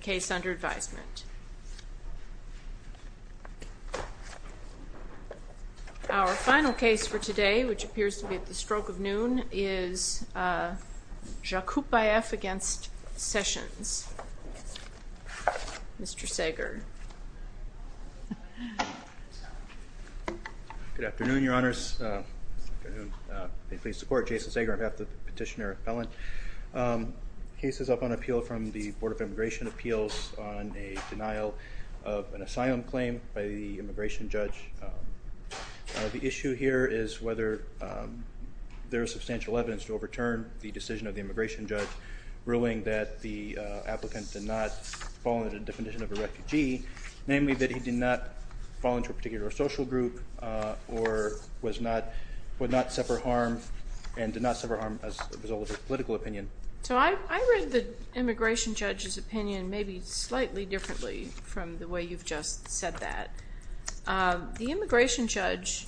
case under advisement. Our final case for today, which appears to be at the stroke of noon, is Zhakypbaev v. Sessions. Mr. Sager. Good afternoon, Your Honors. Jason Sager, I'm half the petitioner, half the appellant. The case is up on Immigration Appeals on a denial of an asylum claim by the immigration judge. The issue here is whether there is substantial evidence to overturn the decision of the immigration judge ruling that the applicant did not fall into the definition of a refugee, namely that he did not fall into a particular social group or was not, would not suffer harm and did not suffer harm as a result of political opinion. So I read the immigration judge's opinion maybe slightly differently from the way you've just said that. The immigration judge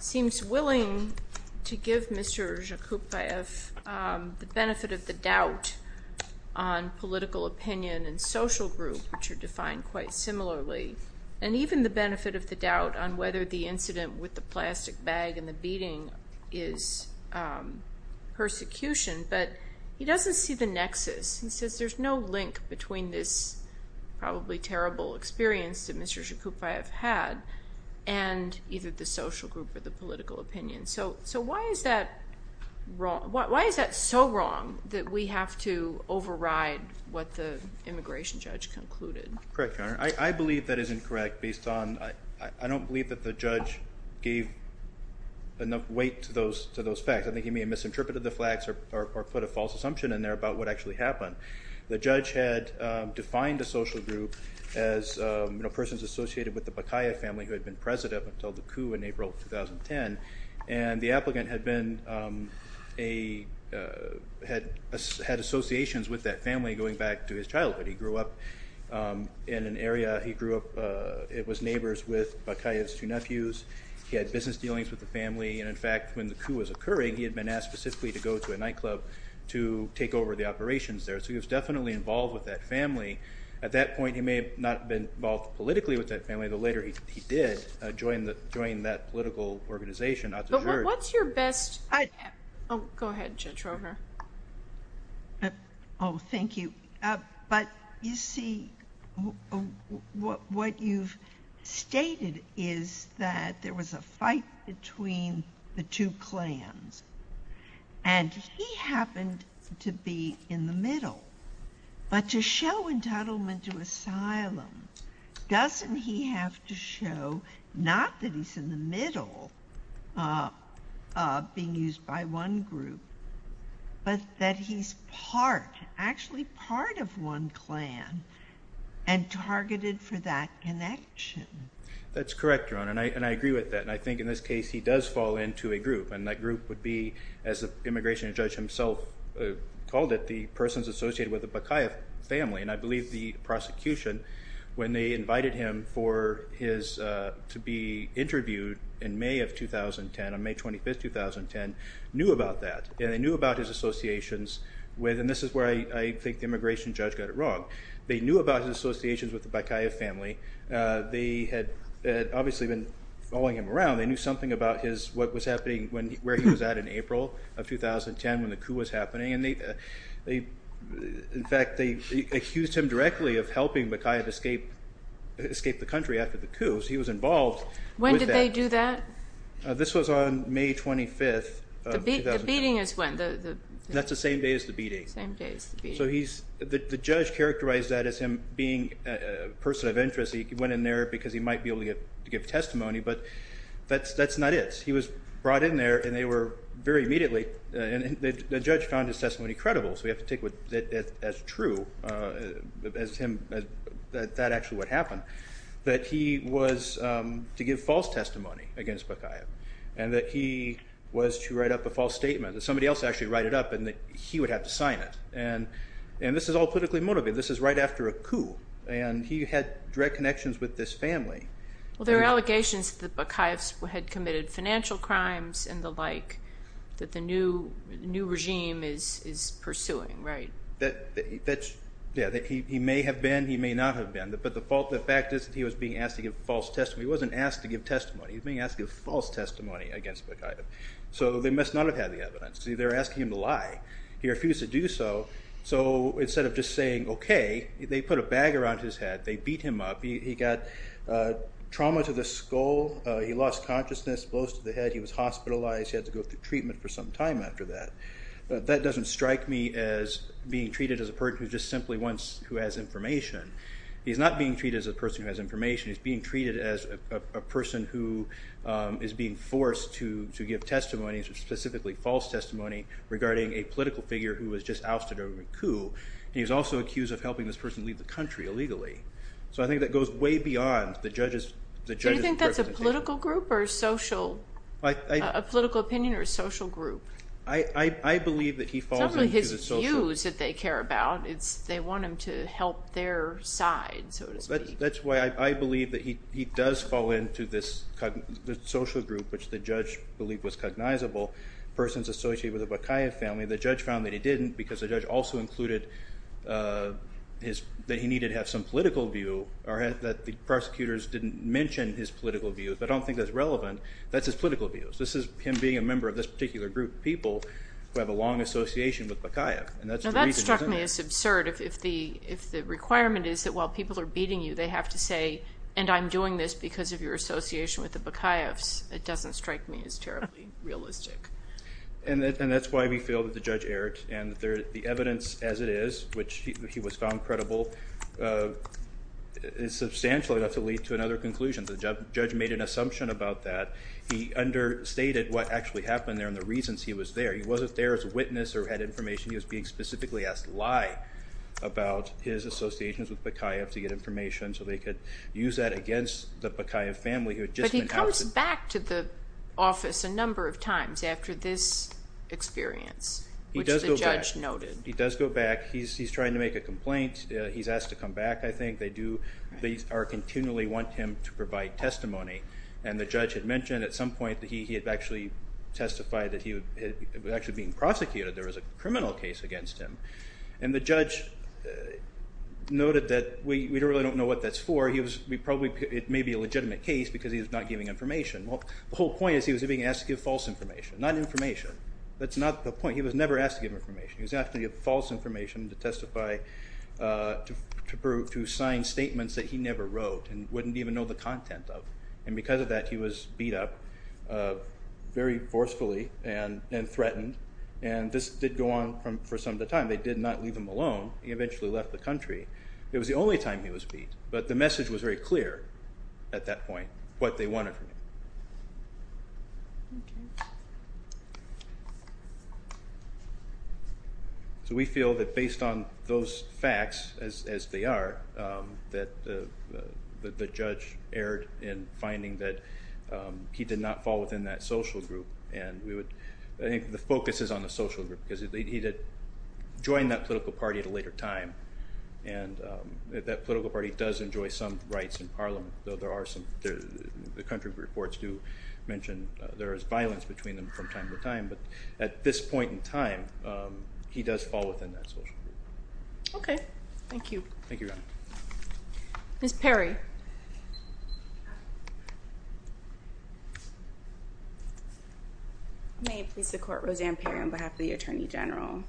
seems willing to give Mr. Zhakypbaev the benefit of the doubt on political opinion and social group, which are defined quite similarly, and even the benefit of the doubt on whether the incident with the plastic bag and the persecution, but he doesn't see the nexus. He says there's no link between this probably terrible experience that Mr. Zhakypbaev had and either the social group or the political opinion. So why is that wrong? Why is that so wrong that we have to override what the immigration judge concluded? Correct, Your Honor. I believe that is incorrect based on, I don't believe that the judge gave enough weight to those facts. I think he may have misinterpreted the flags or put a false assumption in there about what actually happened. The judge had defined a social group as persons associated with the Bakaya family who had been president until the coup in April 2010, and the applicant had been a, had associations with that family going back to his childhood. He grew up in an area, he grew up, it was neighbors with Bakaya's two nephews. He had business dealings with the family, and in fact when the coup was occurring he had been asked specifically to go to a nightclub to take over the operations there. So he was definitely involved with that family. At that point he may have not been involved politically with that family, though later he did join the, join that political organization. But what's your best, oh go ahead Judge Rover. Oh thank you. He was part of a clique between the two clans, and he happened to be in the middle. But to show entitlement to asylum, doesn't he have to show, not that he's in the middle, of being used by one group, but that he's part, actually part of one clan, and targeted for that connection? That's correct, Your Honor, and I agree with that. And I think in this case, he does fall into a group, and that group would be, as the immigration judge himself called it, the persons associated with the Bakaev family. And I believe the prosecution, when they invited him for his, to be interviewed in May of 2010, on May 25th, 2010, knew about that. And they knew about his associations with, and this is where I think the immigration judge got it wrong, they knew about his associations with the Bakaev family. They had obviously been following him around. They knew something about his, what was happening, where he was at in April of 2010, when the coup was happening. And they, in fact, they accused him directly of helping Bakaev escape the country after the coup. So he was involved. When did they do that? This was on May 25th. The beating is when? That's the same day as the beating. Same day as the beating. So he's, the judge characterized that as him being a person of interest. He went in there because he might be able to give testimony, but that's not it. He was brought in there, and they were, very immediately, and the judge found his testimony credible. So we have to take that as true, as him, that actually what happened. That he was to give false testimony against Bakaev, and that he was to write up a false statement, that somebody else actually write it up, and that he would have to sign it. And this is all politically motivated. This is right after a coup, and he had direct connections with this family. Well, there are allegations that Bakaev had committed financial crimes and the like, that the new regime is pursuing, right? That's, yeah, he may have been, he may not have been, but the fault, the fact is that he was being asked to give false testimony. He wasn't asked to give testimony. He's being asked to give false testimony against Bakaev. So they must not have had the evidence. See, they're asking him to lie. He refused to do so. So instead of just saying, okay, they put a bag around his head, they beat him up, he got trauma to the skull, he lost consciousness, blows to the head, he was hospitalized, he had to go through treatment for some time after that. That doesn't strike me as being treated as a person who just simply wants, who has information. He's not being treated as a person who has information. He's being treated as a person who is being forced to give testimonies, or specifically false testimony, regarding a political figure who was just ousted over a coup. He was also accused of helping this person leave the country illegally. So I think that goes way beyond the judge's interpretation. Do you think that's a political group or social, a political opinion or a social group? I believe that he falls into the social group. It's not really his views that they care about. It's, they want him to help their side, so to speak. That's why I believe that he does fall into this social group, which the judge believed was cognizable, persons associated with the Bakaev family. The judge found that he didn't, because the judge also included that he needed to have some political view, or that the prosecutors didn't mention his political view. If I don't think that's relevant, that's his political view. This is him being a member of this particular group of people who have a long association with Bakaev, and that's the reason he's in there. Now that struck me as absurd, if the requirement is that while people are beating you, they have to say, and I'm doing this because of your association with the Bakaevs. It doesn't strike me as terribly realistic. And that's why we feel that the judge erred, and the evidence as it is, which he was found credible, is substantial enough to lead to another conclusion. The judge made an assumption about that. He understated what actually happened there and the reasons he was there. He wasn't there as a witness or had information. He was being specifically asked lie about his associations with Bakaev to get information so they could use that against the Bakaev family. But he comes back to the office a number of times after this experience, which the judge noted. He does go back. He's trying to make a complaint. He's asked to come back, I think. They continually want him to provide testimony. And the judge had mentioned at some point that he had actually testified that he was actually being asked to give false information. Well, the whole point is he was being asked to give false information. Not information. That's not the point. He was never asked to give information. He was asked to give false information to testify to sign statements that he never wrote and wouldn't even know the content of. And because of that, he was beat up very forcefully and threatened. And this did go on for some of the time. They did not leave him alone. He eventually left the country. It was the only time he was beat. But the message was very clear at that point. What they wanted from him. So we feel that based on those facts, as they are, that the judge erred in finding that he did not fall within that social group. And I think the focus is on the social group. Because he did join that political party at a later time. And that political party does enjoy some rights in Parliament. The country reports do mention there is violence between them from time to time. But at this point in time, he does fall within that social group. Okay. Thank you. Thank you, Your Honor. Ms. Perry. May it please the Court. Roseanne Perry on behalf of the Attorney General.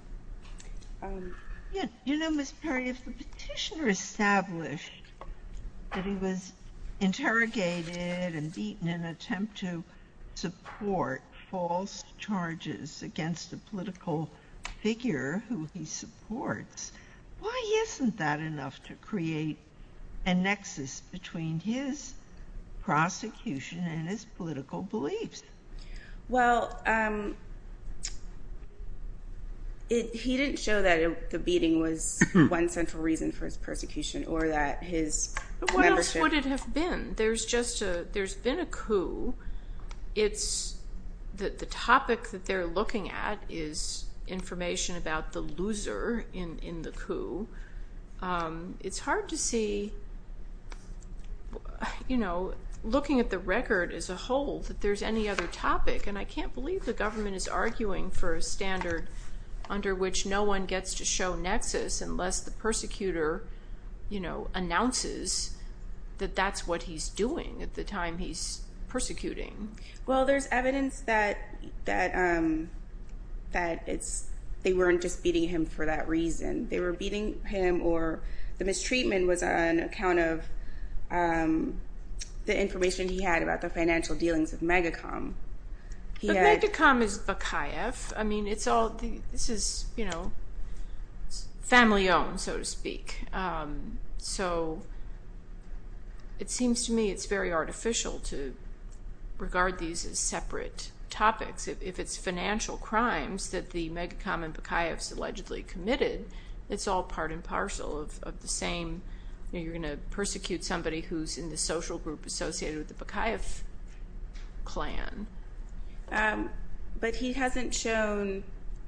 You know, Ms. Perry, if the petitioner established that he was interrogated and beaten in an attempt to support false charges against a political figure who he supports, why isn't that enough to create a nexus between his prosecution and his political beliefs? Well, he didn't show that the beating was one central reason for his persecution or that his membership What would it have been? There's been a coup. The topic that they're looking at is information about the loser in the coup. It's hard to see, looking at the record as a whole, that there's any other topic. And I can't believe the government is arguing for a standard under which no one gets to show nexus unless the persecutor announces that that's what he's doing at the time he's persecuting. Well, there's evidence that they weren't just beating him for that reason. They were beating him or the mistreatment was on account of the information he had about the financial dealings of Megacom. But Megacom is Bakaev. This is family owned, so to speak. So it seems to me it's very artificial to regard these as separate topics. If it's financial crimes that the Megacom and Bakaev allegedly committed, it's all part and parcel of the same. You're going to persecute somebody who's in the social group associated with the Bakaev clan. But he hasn't shown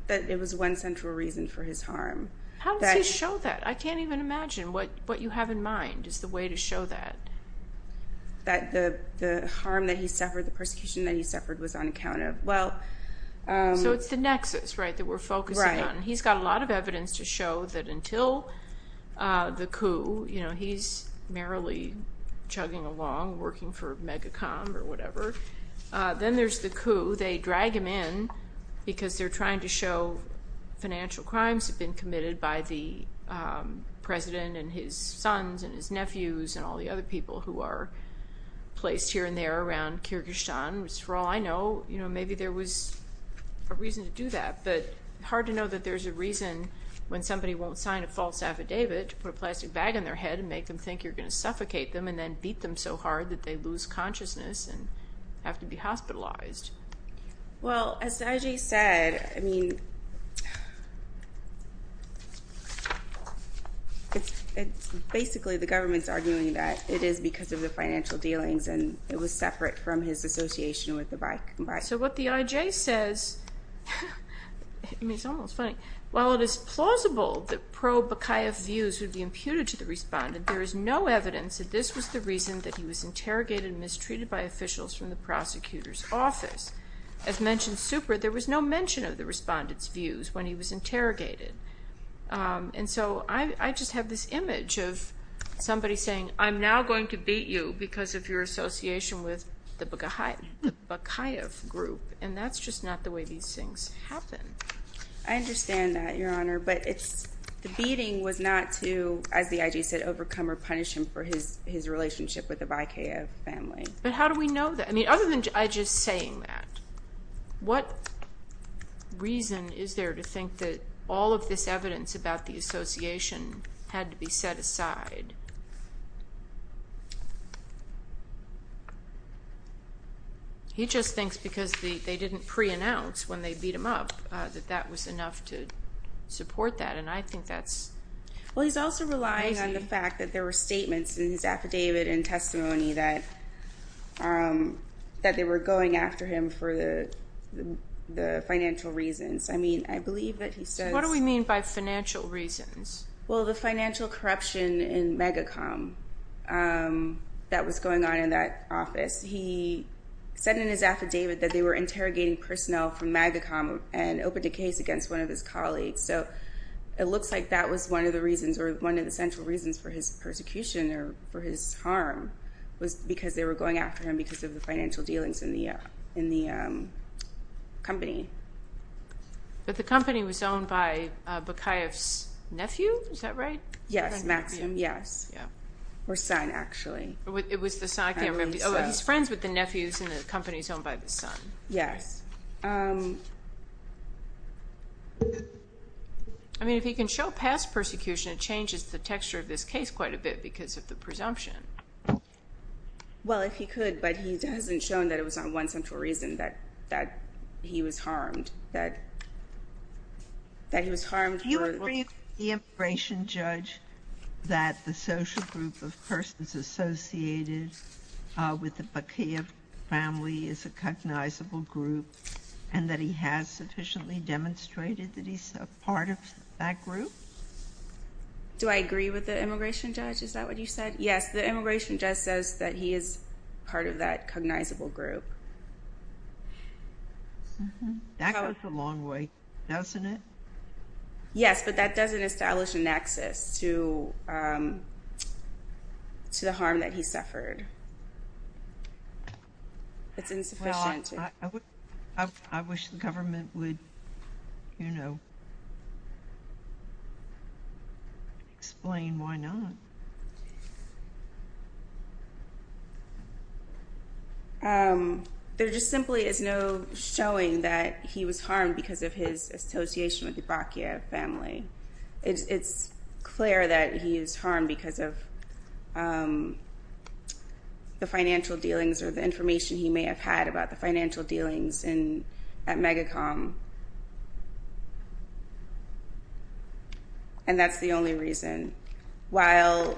that it was one central reason for his harm. How does he show that? I can't even imagine. What you have in mind is the way to show that. That the harm that he suffered, the persecution that he suffered was on account of. So it's the nexus that we're focusing on. He's got a lot of evidence to show that until the coup, he's merrily chugging along working for Megacom or whatever. Then there's the coup. They drag him in because they're trying to show financial people who are placed here and there around Kyrgyzstan, which for all I know, maybe there was a reason to do that. But hard to know that there's a reason when somebody won't sign a false affidavit to put a plastic bag on their head and make them think you're going to suffocate them and then beat them so hard that they lose consciousness and have to be hospitalized. Well, as Ajay said, I mean, it's basically the government's arguing that it is because of the financial dealings and it was separate from his association with the Baikonur. So what the Ajay says, I mean it's almost funny, while it is plausible that pro-Bakayev views would be imputed to the respondent, there is no evidence that this was the reason that he was imputed to the respondent's views when he was interrogated. And so I just have this image of somebody saying, I'm now going to beat you because of your association with the Bakayev group. And that's just not the way these things happen. I understand that, Your Honor, but the beating was not to, as the Ajay said, overcome or punish him for his relationship with the group. He's saying that. What reason is there to think that all of this evidence about the association had to be set aside? He just thinks because they didn't pre-announce when they beat him up that that was enough to support that. And I think that's... Well, he's also relying on the fact that there were statements in his affidavit and testimony that they were going after him for the financial reasons. I mean, I believe that he says... What do we mean by financial reasons? Well, the financial corruption in MAGACOM that was going on in that office. He said in his affidavit that they were interrogating personnel from MAGACOM and it looks like that was one of the reasons or one of the central reasons for his persecution or for his harm was because they were going after him because of the financial dealings in the company. But the company was owned by Bakayev's nephew? Is that right? Yes, Maxim. Yes. Or son, actually. It was the son. I can't remember. He's friends with the nephews in the company and he's owned by the son. Yes. I mean, if he can show past persecution, it changes the texture of this case quite a bit because of the presumption. Well, if he could, but he hasn't shown that it was on one central reason that he was harmed. That he was harmed for... Do you agree with the immigration judge that the social group of persons associated with the Bakayev family is a cognizable group and that he has sufficiently demonstrated that he's a part of that group? Do I agree with the immigration judge? Is that what you said? Yes, the immigration judge says that he is part of that cognizable group. That goes a long way, doesn't it? Yes, but that doesn't establish a nexus to the harm that he suffered. It's insufficient to... Well, I wish the government would, you know, explain why not. There just simply is no showing that he was harmed because of his association with the Bakayev family. It's clear that he is harmed because of the financial dealings or the information he may have had about the financial dealings at Megacom. And that's the only reason. While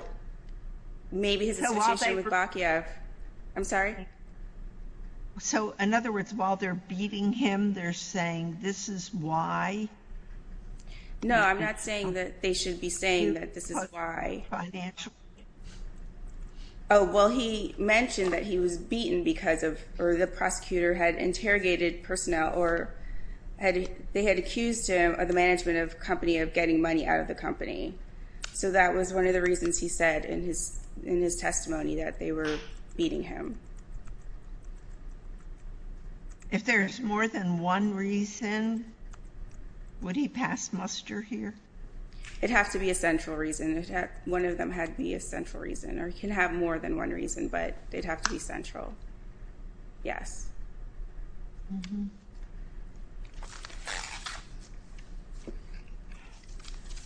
maybe his association with Bakayev... I'm sorry? So, in other words, while they're beating him, they're saying this is why? No, I'm not saying that they should be saying that this is why. Oh, well, he mentioned that he was beaten because of... or the prosecutor had interrogated personnel or they had accused him of the management of a company of getting money out of the company. So that was one of the reasons he said in his testimony that they were beating him. If there's more than one reason, would he pass muster here? It'd have to be a central reason. One of them had to be a central reason, or it can have more than one reason, but it'd have to be central. Yes.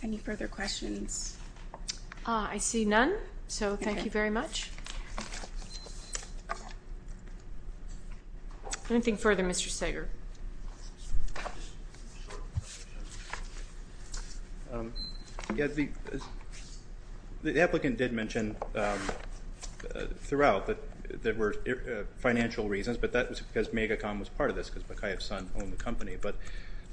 Any further questions? I see none, so thank you very much. Anything further, Mr. Sager? The applicant did mention throughout that there were financial reasons, but that was because Megacom was part of this because Bakayev's son owned the company. But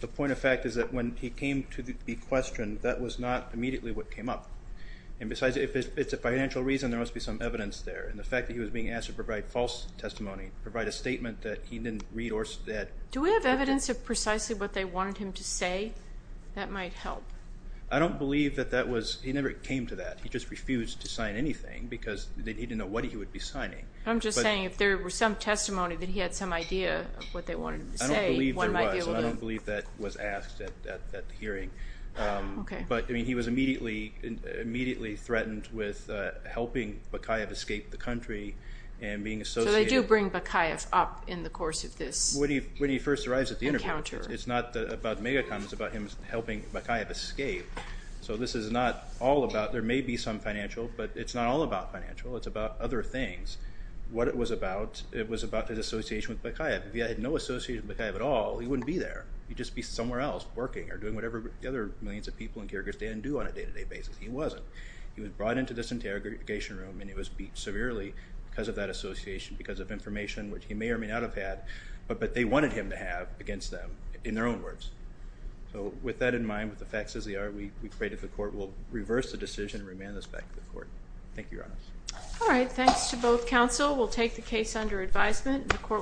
the point of fact is that when he came to be questioned, that was not immediately what came up. And besides, if it's a financial reason, there must be some evidence there. And the fact that he was being asked to provide false testimony, provide a statement that he didn't read or... Do we have evidence of precisely what they wanted him to say? That might help. I don't believe that that was... he never came to that. He just refused to sign anything because he didn't know what he would be signing. I'm just saying if there were some testimony that he had some idea of what they wanted him to say, one might be able to... I don't believe there was, and I don't believe that was asked at the hearing. But he was immediately threatened with helping Bakayev escape the country and being associated... So they do bring Bakayev up in the course of this encounter. When he first arrives at the interview, it's not about Megacom, it's about him helping Bakayev escape. So this is not all about... there may be some financial, but it's not all about financial. It's about other things. What it was about, it was about his association with Bakayev. If he had no association with Bakayev at all, he wouldn't be there. He'd just be somewhere else working or doing whatever the other millions of people in Kyrgyzstan do on a day-to-day basis. He wasn't. He was brought into this interrogation room and he was beat severely because of that association, because of information which he may or may not have had, but they wanted him to have against them, in their own words. So with that in mind, with the facts as they are, we pray that the court will reverse the decision and remand this back to the court. Thank you, Your Honor.